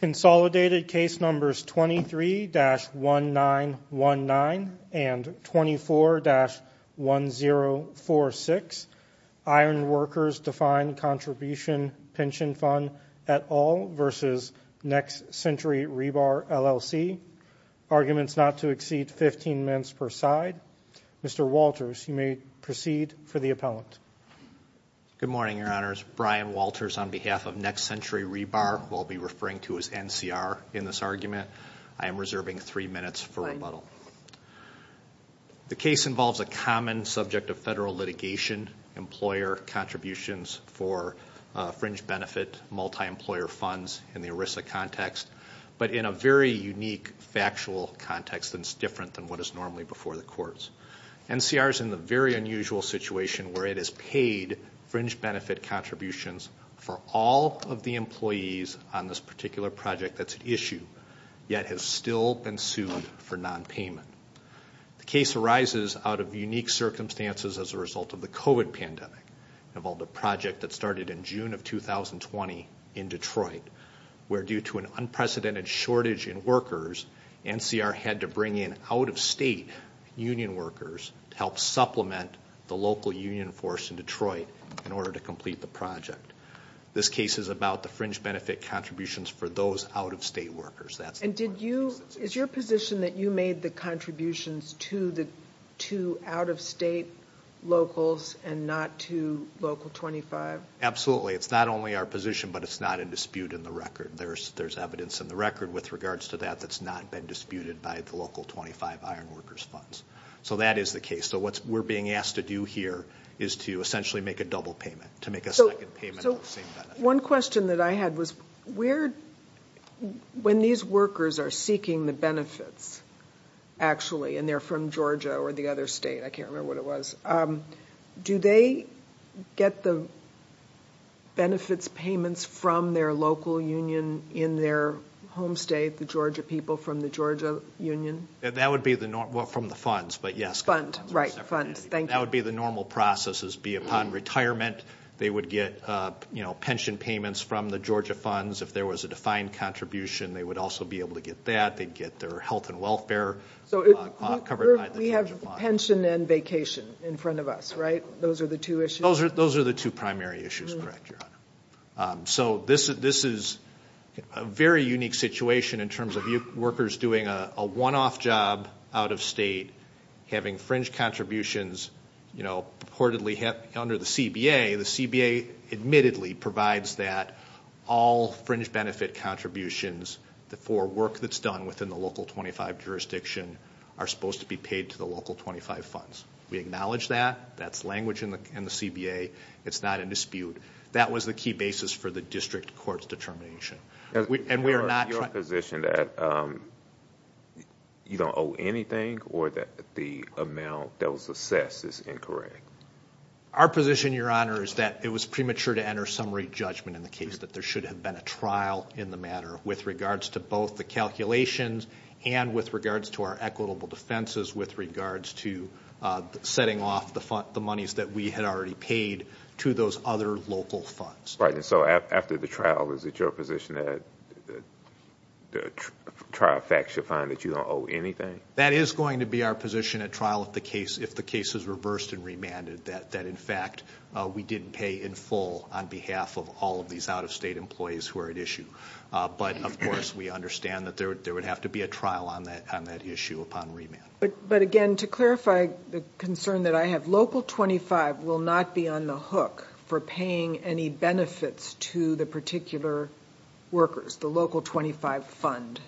Consolidated case numbers 23-1919 and 24-1046. Iron Workers Defined Contribution Pension Fund et al. v. Next Century Rebar LLC. Arguments not to exceed 15 minutes per side. Mr. Walters, you may proceed for the appellant. Good morning, Your Honors. Brian Walters on behalf of Next Century Rebar, who I'll be referring to as NCR in this argument, I am reserving three minutes for rebuttal. The case involves a common subject of federal litigation employer contributions for fringe benefit multi-employer funds in the ERISA context, but in a very unique factual context that's different than what is normally before the courts. NCR is in the very unusual situation where it has paid fringe benefit contributions for all of the employees on this particular project that's an issue, yet has still been sued for non-payment. The case arises out of unique circumstances as a result of the COVID pandemic. Involved a project that started in June of 2020 in Detroit, where due to an unprecedented shortage in workers, NCR had to bring in out-of-state union workers to help supplement the local union force in Detroit in order to complete the project. This case is about the fringe benefit contributions for those out-of-state workers. And did you, is your position that you made the contributions to the two out-of-state locals and not to Local 25? Absolutely. It's not only our position, but it's not in dispute in the record. There's evidence in the record with regards to that that's not been disputed by the funds. So that is the case. So what we're being asked to do here is to essentially make a double payment, to make a second payment. So one question that I had was, when these workers are seeking the benefits, actually, and they're from Georgia or the other state, I can't remember what it was, do they get the benefits payments from their local union in their home state, the Georgia people from the Georgia Union? That would be the normal, from the funds, but yes. Funds, right, funds. That would be the normal processes, be upon retirement, they would get, you know, pension payments from the Georgia funds. If there was a defined contribution, they would also be able to get that. They'd get their health and welfare covered. So we have pension and vacation in front of us, right? Those are the two issues? Those are the two primary issues, correct, so this is a very unique situation in terms of you workers doing a one-off job out of state, having fringe contributions, you know, purportedly under the CBA. The CBA admittedly provides that all fringe benefit contributions, the for work that's done within the local 25 jurisdiction, are supposed to be paid to the local 25 funds. We acknowledge that. That's language in the CBA. It's not a dispute. That was the key basis for the district court's determination. And we are not... Your position that you don't owe anything or that the amount that was assessed is incorrect? Our position, your honor, is that it was premature to enter summary judgment in the case, that there should have been a trial in the matter with regards to both the calculations and with regards to our equitable defenses with regards to setting off the monies that we had already paid to those other local funds. Right, and so after the trial, is it your position that the trial facts should find that you don't owe anything? That is going to be our position at trial if the case is reversed and remanded, that in fact we didn't pay in full on behalf of all of these out-of-state employees who are at issue. But, of course, we understand that there would have to be a trial on that issue upon remand. But again, to clarify the concern that I have, Local 25 will not be on the hook for paying any benefits to the particular workers, the Local 25 fund.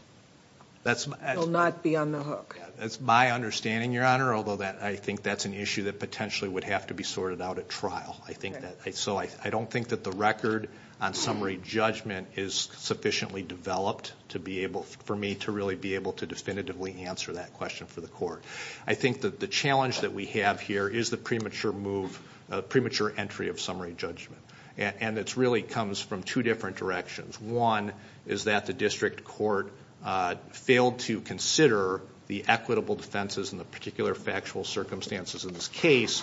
That will not be on the hook. That's my understanding, your honor, although I think that's an issue that potentially would have to be sorted out at trial. I don't think that the record on summary judgment is sufficiently developed for me to really be able to definitively answer that question for the court. I think that the challenge that we have here is the premature move, premature entry of summary judgment. And it really comes from two different directions. One is that the district court failed to consider the equitable defenses in the particular factual circumstances in this case,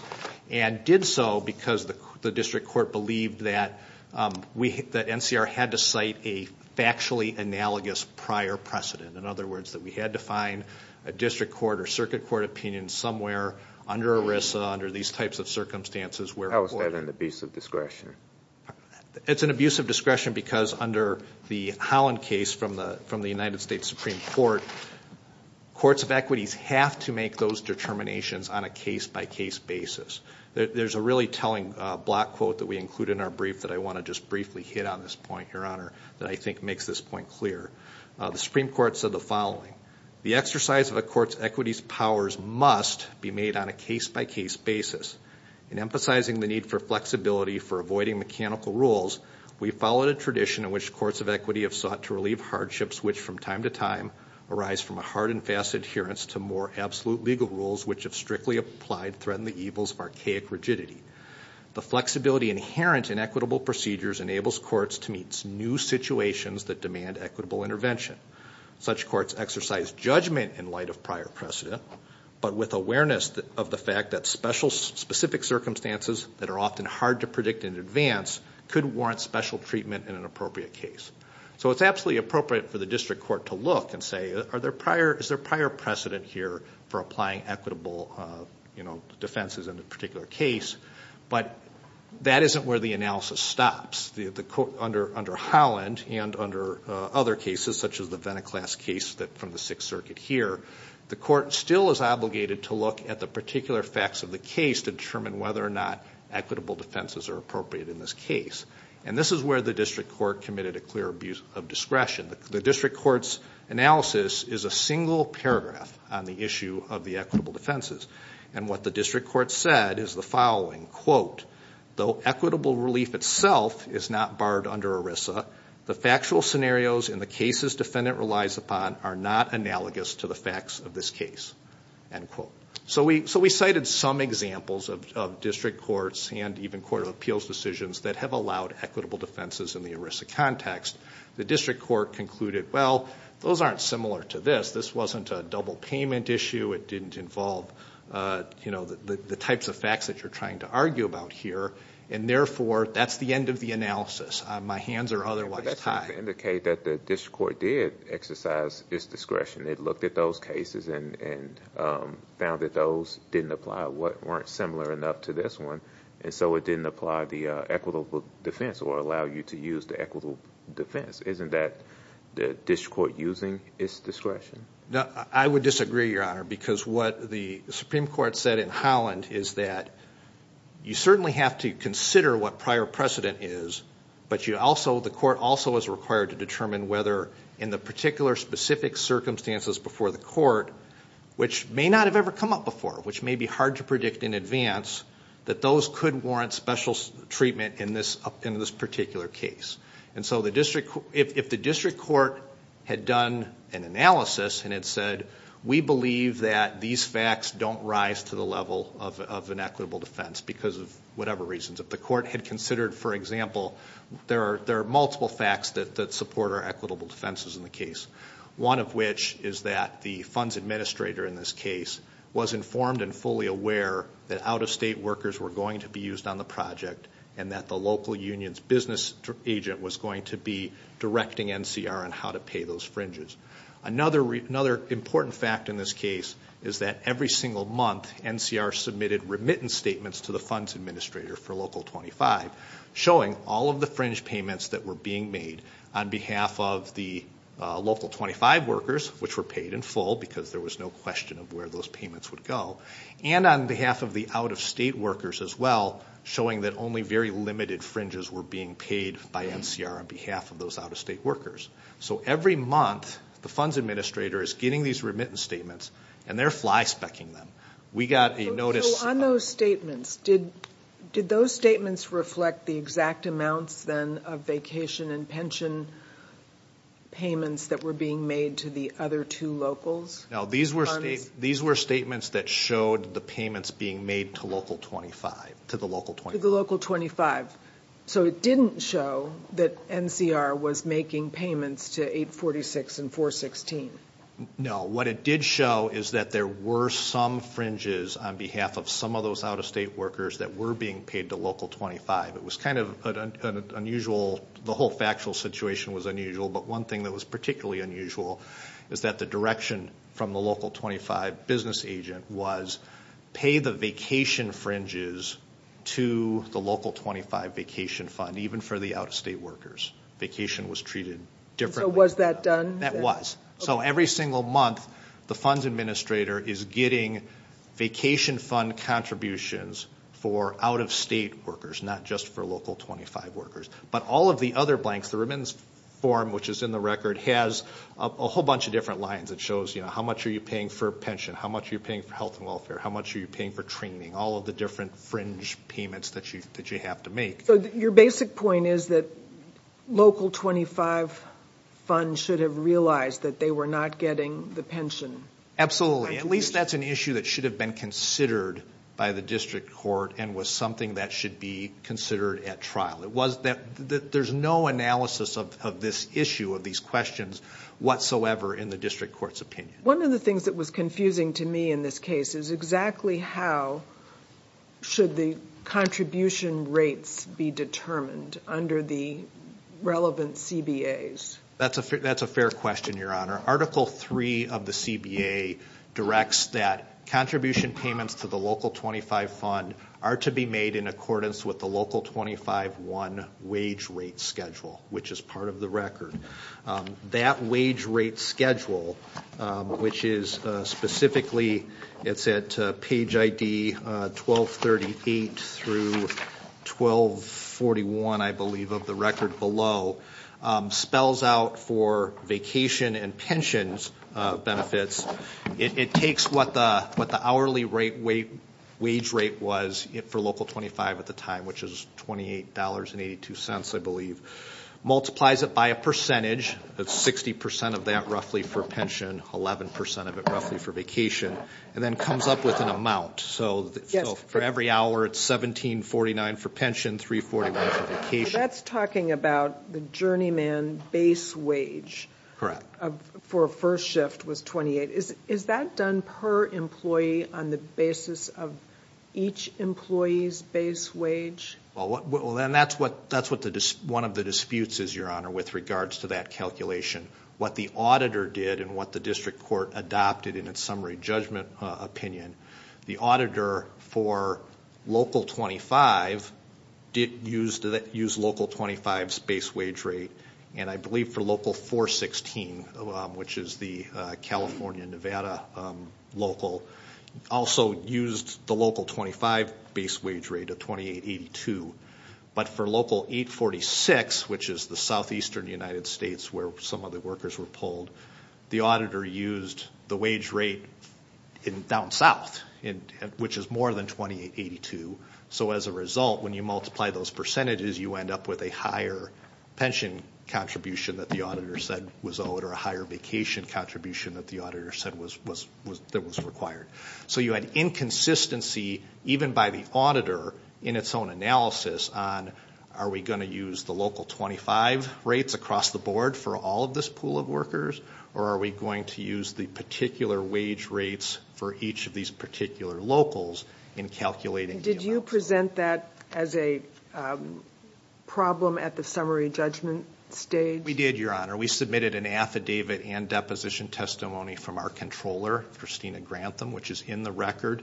and did so because the district court believed that NCR had to cite a factually analogous prior precedent. In other words, that we had to find a district court or circuit court opinion somewhere under ERISA, under these types of circumstances. How is that an abusive discretion? It's an abusive discretion because under the Holland case from the United States Supreme Court, courts of equities have to make those determinations on a case-by-case basis. There's a really telling block quote that we include in our brief that I want to just briefly hit on this point, your honor, that I think makes this point clear. The Supreme Court said the following, the exercise of a court's equity's powers must be made on a case-by-case basis. In emphasizing the need for flexibility for avoiding mechanical rules, we followed a tradition in which courts of equity have sought to relieve hardships which from time to time arise from a hard and fast adherence to more absolute legal rules which have strictly applied threatened the evils of archaic rigidity. The flexibility inherent in equitable procedures enables courts to meet new situations that demand equitable intervention. Such courts exercise judgment in light of prior precedent but with awareness of the fact that special specific circumstances that are often hard to predict in advance could warrant special treatment in an appropriate case. So it's absolutely appropriate for the district court to look and say is there prior precedent here for applying equitable defenses in a particular case but that isn't where the analysis stops. Under Holland and under other cases such as the Veniklass case that from the Sixth Circuit here, the court still is obligated to look at the particular facts of the case to determine whether or not equitable defenses are appropriate in this case. And this is where the district court committed a clear abuse of discretion. The district court's analysis is a single paragraph on the issue of the equitable defenses and what the district court said is the following, quote, though equitable relief itself is not barred under ERISA, the factual scenarios in the cases defendant relies upon are not analogous to the facts of this case, end quote. So we cited some examples of district courts and even court of appeals decisions that have allowed equitable defenses in the ERISA context. The district court concluded well those aren't similar to this. This wasn't a double payment issue. It didn't involve you know the types of facts that you're trying to argue about here and therefore that's the end of the analysis. My hands are otherwise tied. But that seems to indicate that the district court did exercise its discretion. It looked at those cases and found that those didn't apply, weren't similar enough to this one, and so it didn't apply the equitable defense or allow you to use the equitable defense. Isn't that the district court using its discretion? No, I would disagree, Your Honor, because what the Supreme Court said in Holland is that you certainly have to consider what prior precedent is, but you also, the court also is required to determine whether in the particular specific circumstances before the court, which may not have ever come up before, which may be hard to predict in advance, that those could warrant special treatment in this in this particular case. And so the district, if the district court had done an analysis and it said we believe that these facts don't rise to the level of an equitable defense because of whatever reasons, if the court had considered, for example, there are there are multiple facts that support our equitable defenses in the case. One of which is that the funds administrator in this case was informed and fully aware that out-of-state workers were going to be used on the project and that the local union's business agent was going to be directing NCR on how to pay those fringes. Another important fact in this case is that every single month NCR submitted remittance statements to the funds administrator for Local 25, showing all of the fringe payments that were being made on behalf of the Local 25 workers, which were paid in full because there was no question of where those payments would go, and on behalf of the out-of-state workers as well, showing that only very limited fringes were being paid by NCR on behalf of those out-of-state workers. So every month the funds administrator is getting these remittance statements and they're fly-spec-ing them. We got a notice... So on those statements, did those statements reflect the exact amounts then of vacation and pension payments that were being made to the other two locals? No, these were statements that showed the payments being made to Local 25, to the Local 25. So it didn't show that NCR was making payments to 846 and 416? No, what it did show is that there were some fringes on behalf of some of those out-of-state workers that were being paid to Local 25. It was kind of an unusual, the whole factual situation was unusual, but one thing that was particularly unusual is that the direction from the Local 25 business agent was, pay the vacation fringes to the Local 25 vacation fund, even for the out-of-state workers. Vacation was treated differently. So was that done? That was. So every single month the funds administrator is getting vacation fund contributions for out-of-state workers, not just for Local 25 workers. But all of the other blanks, the remittance form which is in the record, has a whole bunch of different lines that shows, you know, how much are you paying for pension, how much are you paying for health and welfare, how much are you paying for training, all of the different fringe payments that you have to make. So your basic point is that Local 25 funds should have realized that they were not getting the pension contributions? Absolutely. At least that's an issue that should have been considered by the district court and was something that should be considered at trial. It was that there's no analysis of this issue of these questions whatsoever in the district court's opinion. One of the that was confusing to me in this case is exactly how should the contribution rates be determined under the relevant CBAs? That's a fair question, Your Honor. Article 3 of the CBA directs that contribution payments to the Local 25 fund are to be made in accordance with the Local 25-1 wage rate schedule, which is part of the record. That wage rate schedule, which is specifically, it's at page ID 1238 through 1241, I believe, of the record below, spells out for vacation and pensions benefits. It takes what the hourly rate, wage rate was for Local 25 at the time, which is $28.82, I believe, multiplies it by a percentage, that's 60% of that roughly for pension, 11% of it roughly for vacation, and then comes up with an amount. So for every hour, it's $17.49 for pension, $3.41 for vacation. That's talking about the journeyman base wage for a first shift was $28. Is that done per employee on the basis of each employee's base wage? Well, that's what one of the disputes is, Your Honor, with regards to that calculation. What the auditor did and what the district court adopted in its summary judgment opinion, the auditor for Local 25 used Local 25's base wage rate, and I believe for Local 416, which is the California-Nevada local, also used the Local 25 base wage rate of $28.82. But for Local 846, which is the southeastern United States where some of the workers were pulled, the auditor used the wage rate down south, which is more than $28.82. So as a result, when you multiply those percentages, you end up with a higher pension contribution that the auditor said was owed or a higher vacation contribution that the auditor said was required. So you had inconsistency, even by the auditor, in its own analysis on, are we going to use the Local 25 rates across the board for all of this pool of workers, or are we going to use the particular wage rates for each of these particular locals in calculating the amount? Did you present that as a problem at the summary judgment stage? We did, Your Honor. We submitted an affidavit and deposition testimony from our controller, Christina Grantham, which is in the record,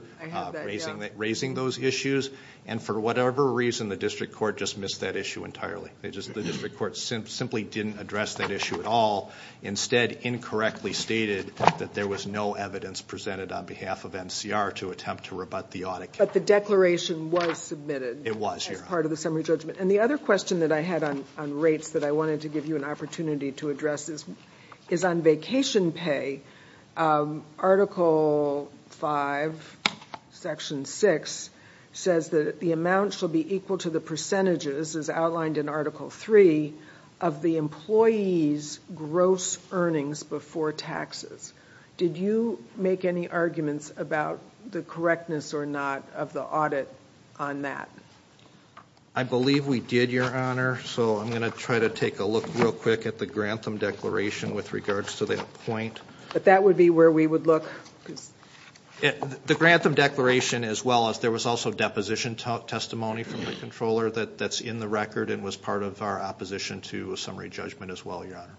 raising those issues. And for whatever reason, the district court just missed that issue entirely. The district court simply didn't address that issue at all. Instead, incorrectly stated that there was no evidence presented on behalf of NCR to attempt to rebut the audit. But the declaration was submitted as part of the summary judgment. And the other question that I had on rates that I wanted to give you an opportunity to address is on vacation pay, Article 5, Section 6, says that the amount shall be equal to the percentages, as outlined in Article 3, of the employees' gross earnings before taxes. Did you make any arguments about the correctness or not of the audit on that? I believe we did, Your Honor. So I'm going to try to take a look real quick at the Grantham declaration with regards to that point. But that would be where we would look? The Grantham declaration, as well as there was also deposition testimony from the controller that's in the record and was part of our opposition to a summary judgment as well, Your Honor.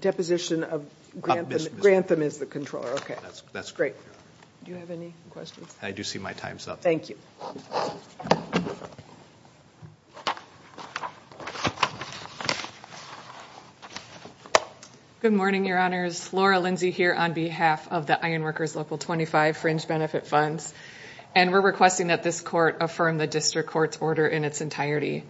Deposition of Grantham. Grantham is the controller. Okay. That's correct, Your Honor. Do you have any questions? I do see my time's up. Thank you. Good morning, Your Honors. Laura Lindsey here on behalf of the Ironworkers Local 25 Fringe Benefit Funds. And we're requesting that this court affirm the district court's order in its entirety.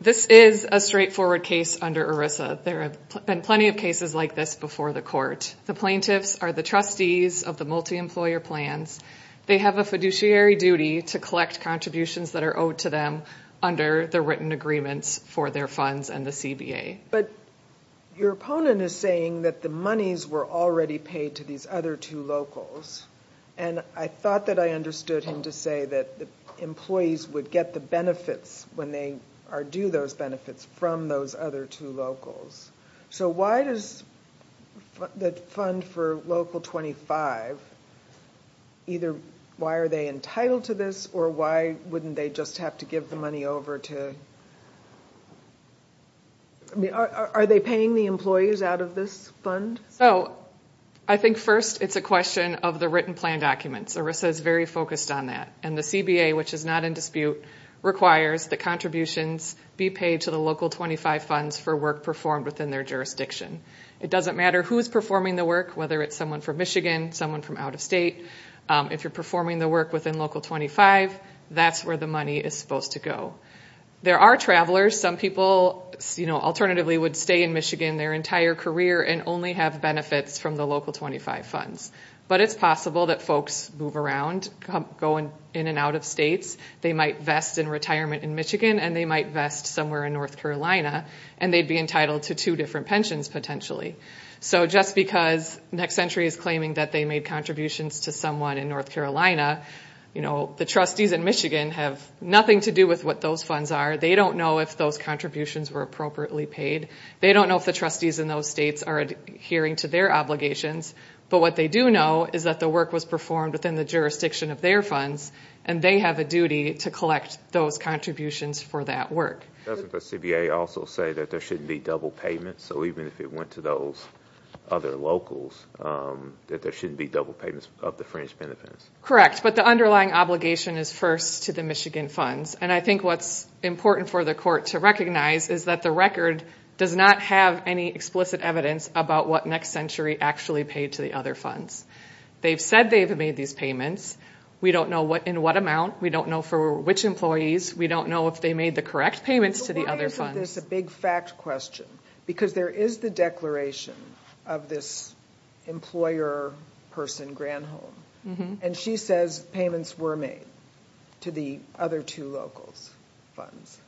This is a straightforward case under ERISA. There have been plenty of cases like this before the court. The plaintiffs are the trustees of the multi-employer plans. They have a fiduciary duty to collect contributions that are owed to them under the written agreements for their funds and the CBA. But your opponent is saying that the monies were already paid to these other two locals. And I thought that I understood him to say that the employees would get the benefits when they are due those benefits from those other two locals. So why does the fund for Local 25, either why are they entitled to this or why wouldn't they just have to give the money over to... Are they paying the employees out of this fund? So I think first it's a question of the written plan documents. ERISA is very focused on that. And the CBA, which is not in dispute, requires the contributions be paid to the Local 25 funds for work performed within their jurisdiction. It doesn't matter who's performing the work, whether it's someone from Michigan, someone from out of state. If you're performing the work within Local 25, that's where the money is supposed to go. There are travelers. Some people, you know, alternatively would stay in Michigan their entire career and only have benefits from the Local 25 funds. But it's possible that folks move around, go in and out of states. They might vest in retirement in Michigan and they might vest somewhere in North Carolina and they'd be entitled to two different pensions potentially. So just because Next Century is claiming that they made contributions to someone in North Carolina, you know, the trustees in Michigan have nothing to do with what those funds are. They don't know if those contributions were appropriately paid. They don't know if the trustees in those states are adhering to their obligations. But what they do know is that the work was performed within the jurisdiction of their funds and they have a duty to collect those contributions for that work. Doesn't the CBA also say that there shouldn't be double payments? So even if it went to those other locals, that there shouldn't be double payments of the fringe benefits? Correct. But the underlying obligation is first to the Michigan funds. And I think what's important for the court to recognize is that the record does not have any explicit evidence about what Next Century actually paid to the other funds. They've said they've made these payments. We don't know in what amount. We don't know for which employees. We don't know if they made the correct payments to the other funds. So why isn't this a big fact question? Because there is the declaration of this employer person, Granholm, and she says payments were made to the other two locals' funds.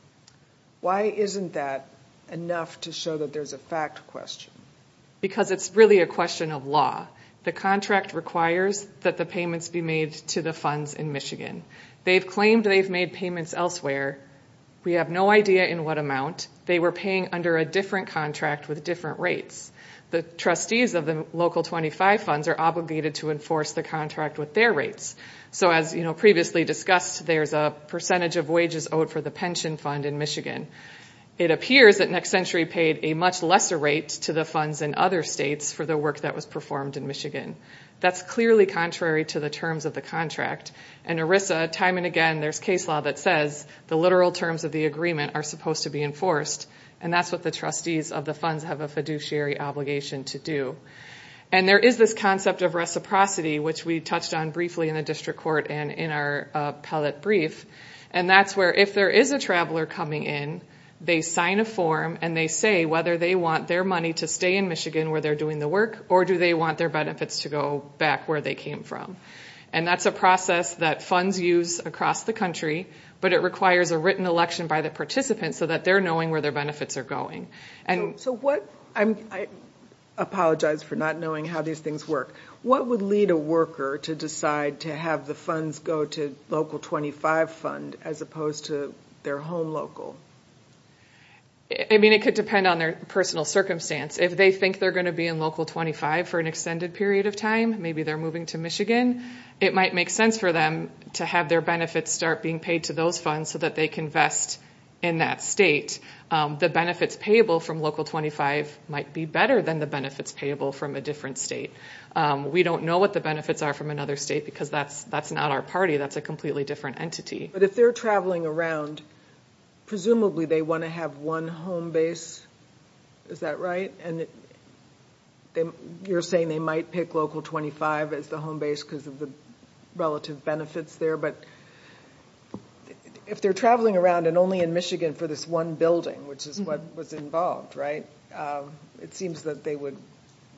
Why isn't that enough to show that there's a fact question? Because it's really a question of law. The contract requires that the payments be made to the funds in Michigan. They've claimed they've made payments elsewhere. We have no idea in what amount. They were paying under a different contract with different rates. The trustees of the local 25 funds are obligated to enforce the contract with their rates. So as, you know, previously discussed, there's a percentage of wages owed for the pension fund in Michigan. It appears that Next Century paid a much lesser rate to the funds in other states for the work that was performed in Michigan. That's clearly contrary to the terms of the contract. And ERISA, time and again, there's case law that says the literal terms of the agreement are supposed to be enforced. And that's what the trustees of the funds have a fiduciary obligation to do. And there is this concept of reciprocity, which we touched on briefly in the district court and in our appellate brief. And that's where if there is a traveler coming in, they sign a form and they say whether they want their money to stay in Michigan where they're doing the work or do they want their benefits to go back where they came from. And that's a process that funds use across the country, but it requires a written election by the participants so that they're knowing where their benefits are going. So what, I apologize for not knowing how these things work, what would lead a worker to decide to have the funds go to local 25 fund as opposed to their home local? I mean, it could depend on their personal circumstance. If they think they're going to be in local 25 for an extended period of time, maybe they're moving to Michigan, it might make sense for them to have their benefits start being paid to those funds so that they can invest in that state. The benefits payable from local 25 might be better than the benefits payable from a different state. We don't know what the benefits are from another state because that's not our party, that's a completely different entity. But if they're traveling around, presumably they want to have one home base, is that right? And you're saying they might pick local 25 as the home base because of the relative benefits there, but if they're traveling around and only in Michigan for this one building, which is what was involved, right? It seems that they would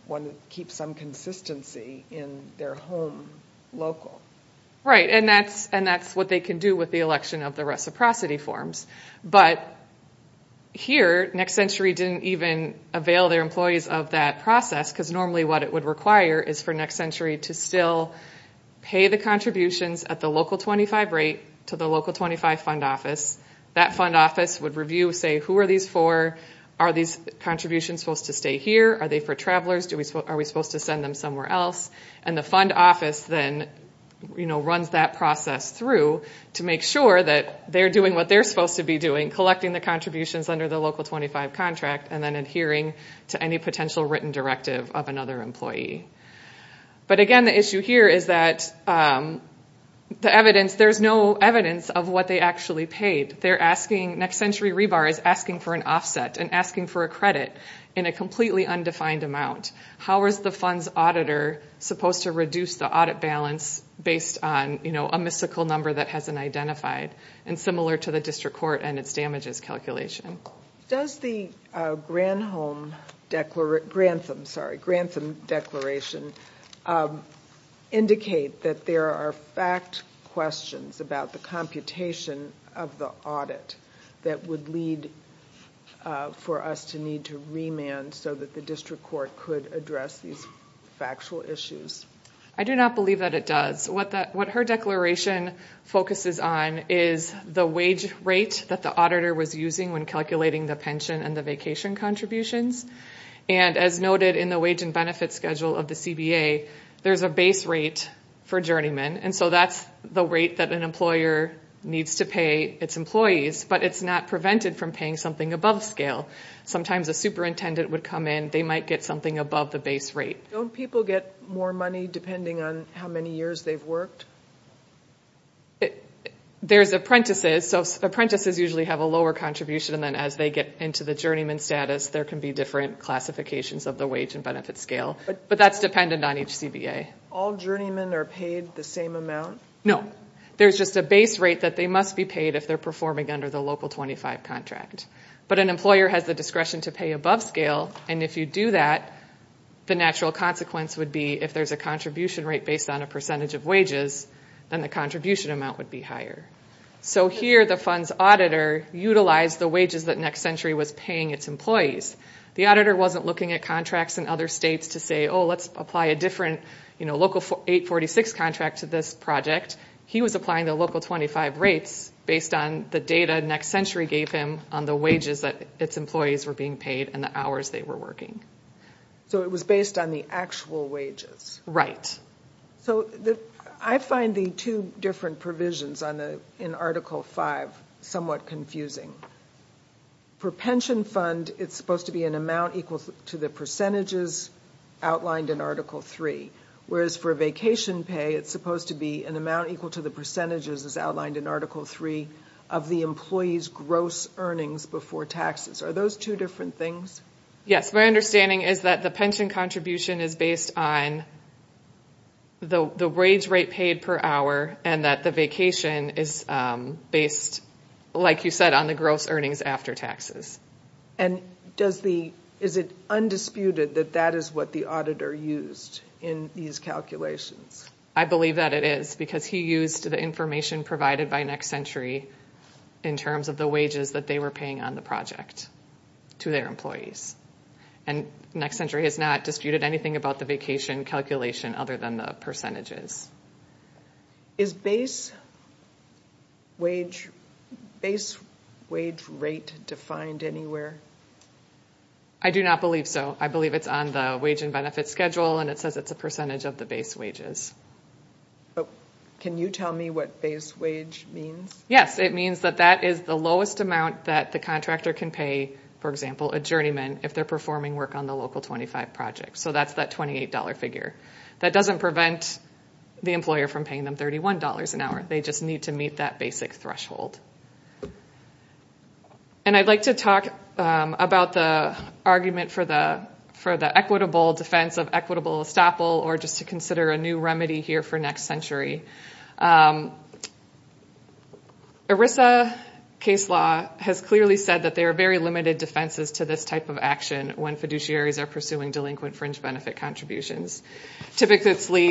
want to keep some consistency in their home local. Right, and that's what they can do with the election of the reciprocity forms. But here, Next Century didn't even avail their employees of that process because normally what it would require is for Next Century to still pay the contributions at the local 25 rate to the local 25 fund office. That fund office would review, say, who are these for? Are these contributions supposed to stay here? Are they for travelers? Are we supposed to send them somewhere else? And the fund office then runs that process through to make sure that they're doing what they're supposed to be doing, collecting the contributions under the local 25 contract and then adhering to any potential written directive of another employee. But again, the issue here is that there's no evidence of what they actually paid. Next Century Rebar is asking for an offset and asking for a credit in a completely undefined amount. How is the fund's auditor supposed to reduce the audit balance based on a mystical number that hasn't identified and similar to the district court and its damages calculation? Does the Grantham Declaration indicate that there are fact questions about the computation of the audit that would lead for us to need to remand so that the district court could address these factual issues? I do not believe that it does. What her declaration focuses on is the wage rate that the auditor was using when calculating the pension and the vacation contributions. And as noted in the wage and benefit schedule of the CBA, there's a base rate for journeymen and so that's the rate that an employer needs to pay its employees, but it's not prevented from paying something above scale. Sometimes a superintendent would come in, they might get something above the base rate. Don't people get more money depending on how many years they've worked? There's apprentices, so apprentices usually have a lower contribution and then as they get into the journeyman status, there can be different classifications of the wage and benefit scale. But that's dependent on each CBA. All journeymen are paid the same amount? No. There's just a base rate that they must be paid if they're performing under the Local 25 contract. But an employer has the discretion to pay above scale and if you do that, the natural consequence would be if there's a contribution rate based on a percentage of wages, then the contribution amount would be higher. So here the funds auditor utilized the wages that Next Century was paying its employees. The auditor wasn't looking at contracts in other states to say, oh, let's apply a different 846 contract to this project. He was applying the Local 25 rates based on the data Next Century gave him on the wages that its employees were being paid and the hours they were working. So it was based on the actual wages? Right. So I find the two different provisions in Article 5 somewhat confusing. For pension fund, it's supposed to be an amount equal to the percentages outlined in Article 3. Whereas for vacation pay, it's supposed to be an amount equal to the percentages as outlined in Article 3 of the employee's gross earnings before taxes. Are those two different things? Yes. My understanding is that the pension contribution is based on the wage rate paid per hour and that the vacation is based, like you said, on the gross earnings after taxes. And is it undisputed that that is what the auditor used in these calculations? I believe that it is because he used the information provided by Next Century in terms of the wages that they were paying on the project to their employees. And Next Century has not disputed anything about the vacation calculation other than the percentages. Is base wage rate defined anywhere? I do not believe so. I believe it's on the wage and benefit schedule and it says it's a percentage of the base wages. Can you tell me what base wage means? Yes. It means that that is the lowest amount that the contractor can pay, for example, adjournment if they're performing work on the Local 25 project. So that's that $28 figure. That doesn't prevent the employer from paying them $31 an hour. They just need to meet that basic threshold. And I'd like to talk about the argument for the equitable defense of equitable estoppel or just to consider a new remedy here for Next Century. ERISA case law has clearly said that there are very limited defenses to this type of action when fiduciaries are pursuing delinquent fringe benefit contributions. Typically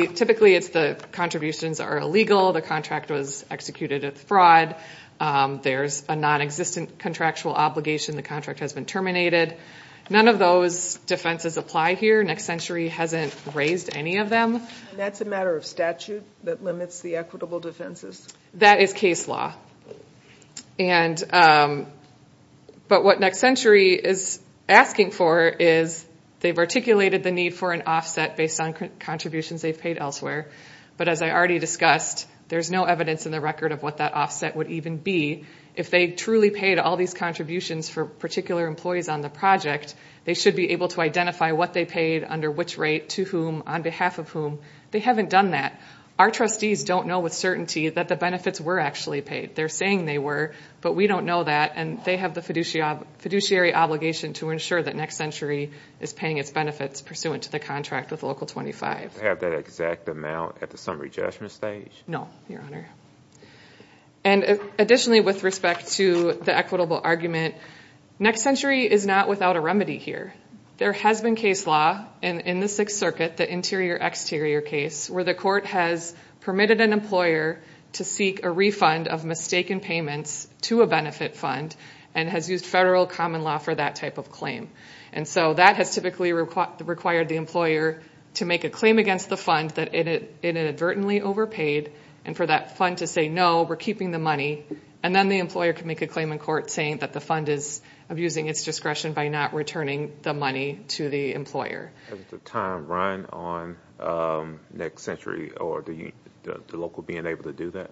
it's the contributions are illegal, the contract was executed as fraud, there's a nonexistent contractual obligation, the contract has been terminated. None of those defenses apply here. Next Century hasn't raised any of them. That's a matter of statute that limits the equitable defenses? That is case law. But what Next Century is asking for is they've articulated the need for an offset based on contributions they've paid elsewhere. But as I already discussed, there's no evidence in the record of what that offset would even be. If they truly paid all these contributions for particular employees on the project, they should be able to identify what they paid, under which rate, to whom, on behalf of whom. They haven't done that. Our trustees don't know with certainty that the benefits were actually paid. They're saying they were, but we don't know that, and they have the fiduciary obligation to ensure that Next Century is paying its benefits pursuant to the contract with Local 25. Do they have that exact amount at the summary judgment stage? No, Your Honor. And additionally, with respect to the equitable argument, Next Century is not without a remedy here. There has been case law in the Sixth Circuit, the interior-exterior case, where the court has permitted an employer to seek a refund of mistaken payments to a benefit fund and has used federal common law for that type of claim. And so that has typically required the employer to make a claim against the fund that it inadvertently overpaid and for that fund to say, no, we're keeping the money, and then the employer can make a claim in court saying that the fund is abusing its discretion by not returning the money to the Hasn't the time run on Next Century or the local being able to do that?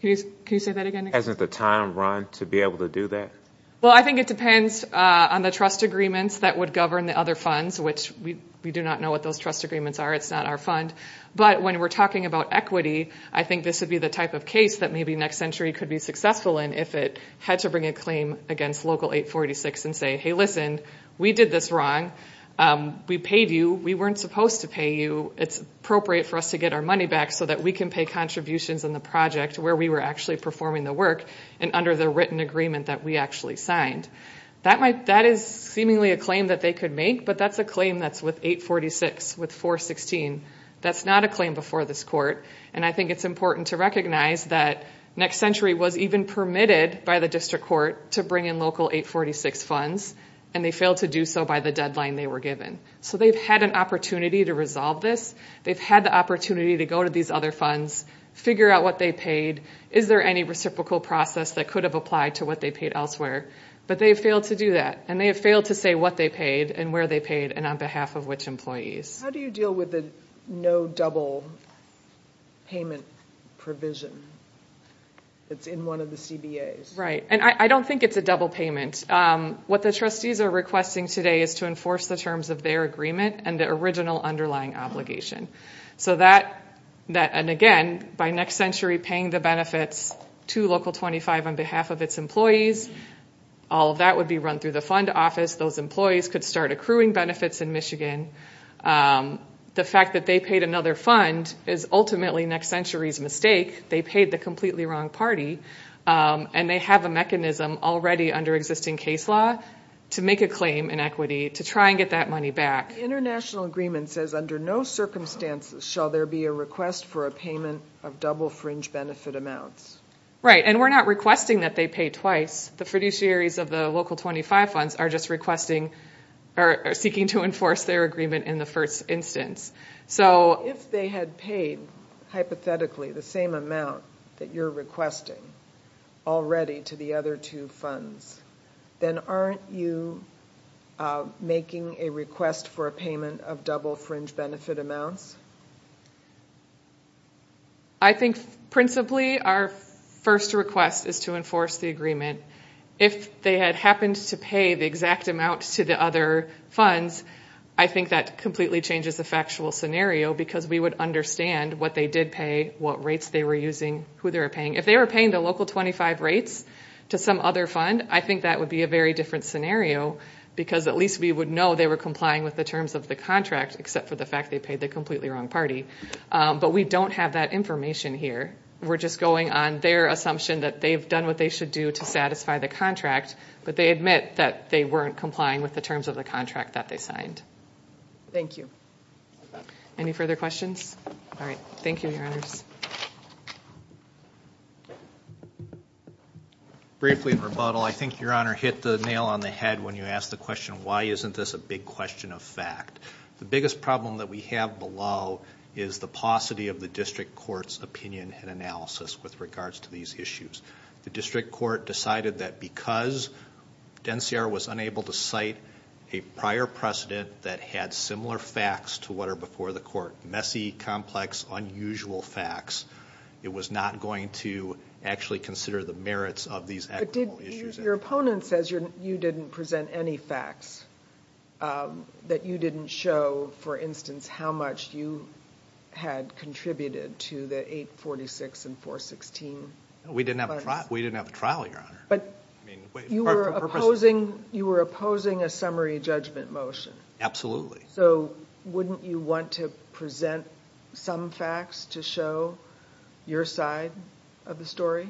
Can you say that again? Hasn't the time run to be able to do that? Well, I think it depends on the trust agreements that would govern the other funds, which we do not know what those trust agreements are. It's not our fund. But when we're talking about equity, I think this would be the type of case that maybe Next Century could be successful in if it to bring a claim against Local 846 and say, hey, listen, we did this wrong. We paid you. We weren't supposed to pay you. It's appropriate for us to get our money back so that we can pay contributions on the project where we were actually performing the work and under the written agreement that we actually signed. That is seemingly a claim that they could make, but that's a claim that's with 846, with 416. That's not a claim before this court. I think it's important to recognize that Next Century was even permitted by the district court to bring in Local 846 funds, and they failed to do so by the deadline they were given. So they've had an opportunity to resolve this. They've had the opportunity to go to these other funds, figure out what they paid. Is there any reciprocal process that could have applied to what they paid elsewhere? But they failed to do that, and they have failed to say what they paid and where they paid and on behalf of which employees. How do you deal with the no double payment provision that's in one of the CBAs? Right. And I don't think it's a double payment. What the trustees are requesting today is to enforce the terms of their agreement and the original underlying obligation. So that, and again, by Next Century paying the benefits to Local 25 on behalf of its employees, all of that would be run through the fund office. Those employees could start accruing benefits in Michigan. The fact that they paid another fund is ultimately Next Century's mistake. They paid the completely wrong party, and they have a mechanism already under existing case law to make a claim in equity to try and get that money back. International agreement says under no circumstances shall there be a request for a payment of double fringe benefit amounts. Right. And we're not requesting that they pay twice. The fiduciaries of the Local 25 funds are just requesting or seeking to enforce their agreement in the first instance. So... If they had paid hypothetically the same amount that you're requesting already to the other two funds, then aren't you making a request for a payment of double fringe benefit amounts? I think principally our first request is to enforce the agreement. If they had happened to pay the exact amount to the other funds, I think that completely changes the factual scenario, because we would understand what they did pay, what rates they were using, who they were paying. If they were paying the Local 25 rates to some other fund, I think that would be a very different scenario, because at least we would know they were complying with the terms of the contract, except for the fact they paid the completely wrong party. But we don't have that information here. We're just going on their assumption that they've what they should do to satisfy the contract, but they admit that they weren't complying with the terms of the contract that they signed. Thank you. Any further questions? All right. Thank you, Your Honors. Briefly in rebuttal, I think Your Honor hit the nail on the head when you asked the question, why isn't this a big question of fact? The biggest problem that we have below is the paucity of the district court's opinion and analysis with regards to these issues. The district court decided that because DENSIAR was unable to cite a prior precedent that had similar facts to what are before the court, messy, complex, unusual facts, it was not going to actually consider the merits of these equitable issues. Your opponent says you didn't present any facts, that you didn't show, for instance, how much you had contributed to the 846 and 416. We didn't have a trial, Your Honor. You were opposing a summary judgment motion. Absolutely. So wouldn't you want to present some facts to show your side of the story?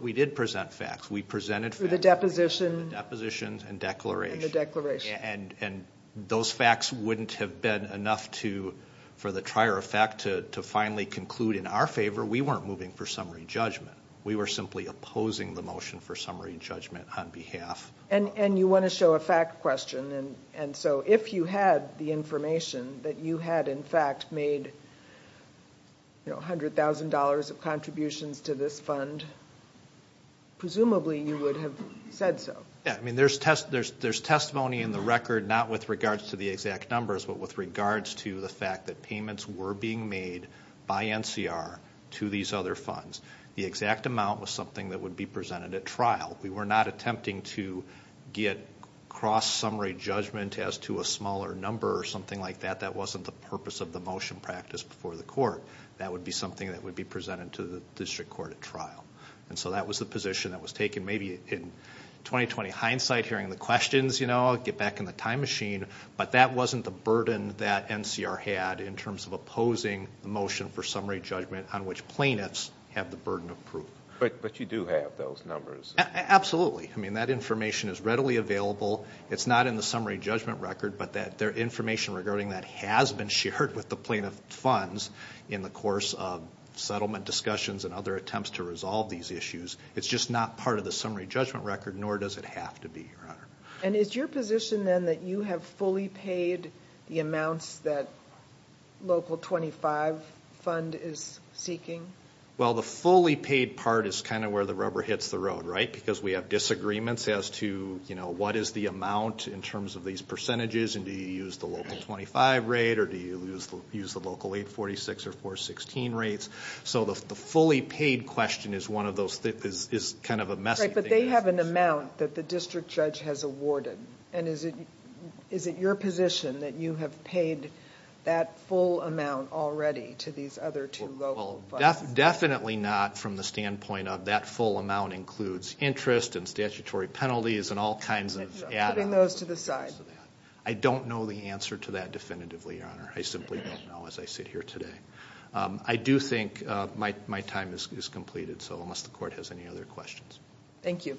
We did present facts. We presented facts. For the deposition. The depositions and declaration. And the declaration. And those facts wouldn't have been enough for the trier of fact to finally conclude in our favor, we weren't moving for summary judgment. We were simply opposing the motion for summary judgment on behalf. And you want to show a fact question. And so if you had the information that you had, in fact, made $100,000 of contributions to this fund, presumably you would have said so. Yeah, I mean, there's testimony in the record, not with regards to the exact numbers, but with regards to the fact that payments were being made by NCR to these other funds. The exact amount was something that would be presented at trial. We were not attempting to get cross-summary judgment as to a smaller number or something like that. That wasn't the purpose of the motion practice before the court. That would be something that would be presented to the district court at trial. And so that was the position that was taken maybe in 2020 hindsight, hearing the questions, you know, get back in the time machine. But that wasn't the burden that NCR had in terms of opposing the motion for summary judgment on which plaintiffs have the burden of proof. But you do have those numbers. Absolutely. I mean, that information is readily available. It's not in the summary judgment record, but that information regarding that has been shared with the plaintiff funds in the course of settlement discussions and other attempts to resolve these issues. It's just not part of the summary judgment record, nor does it have to be, Your Honor. And is your position then that you have fully paid the amounts that local 25 fund is seeking? Well, the fully paid part is kind of where the rubber hits the road, right? Because we have disagreements as to, you know, what is the amount in terms of these percentages and do you use the local 25 rate or do you use the local 846 or 416 rates? So the fully paid question is one of those that is kind of a messy thing. Right, but they have an amount that the district judge has awarded. And is it your position that you have paid that full amount already to these other two local funds? Well, definitely not from the standpoint of that full amount includes interest and statutory penalties and all kinds of add-ons. Putting those to the side. I don't know the answer to that definitively, Your Honor. I simply don't know as I sit here today. I do think my time is completed. So unless the court has any other questions. Thank you. Thank you.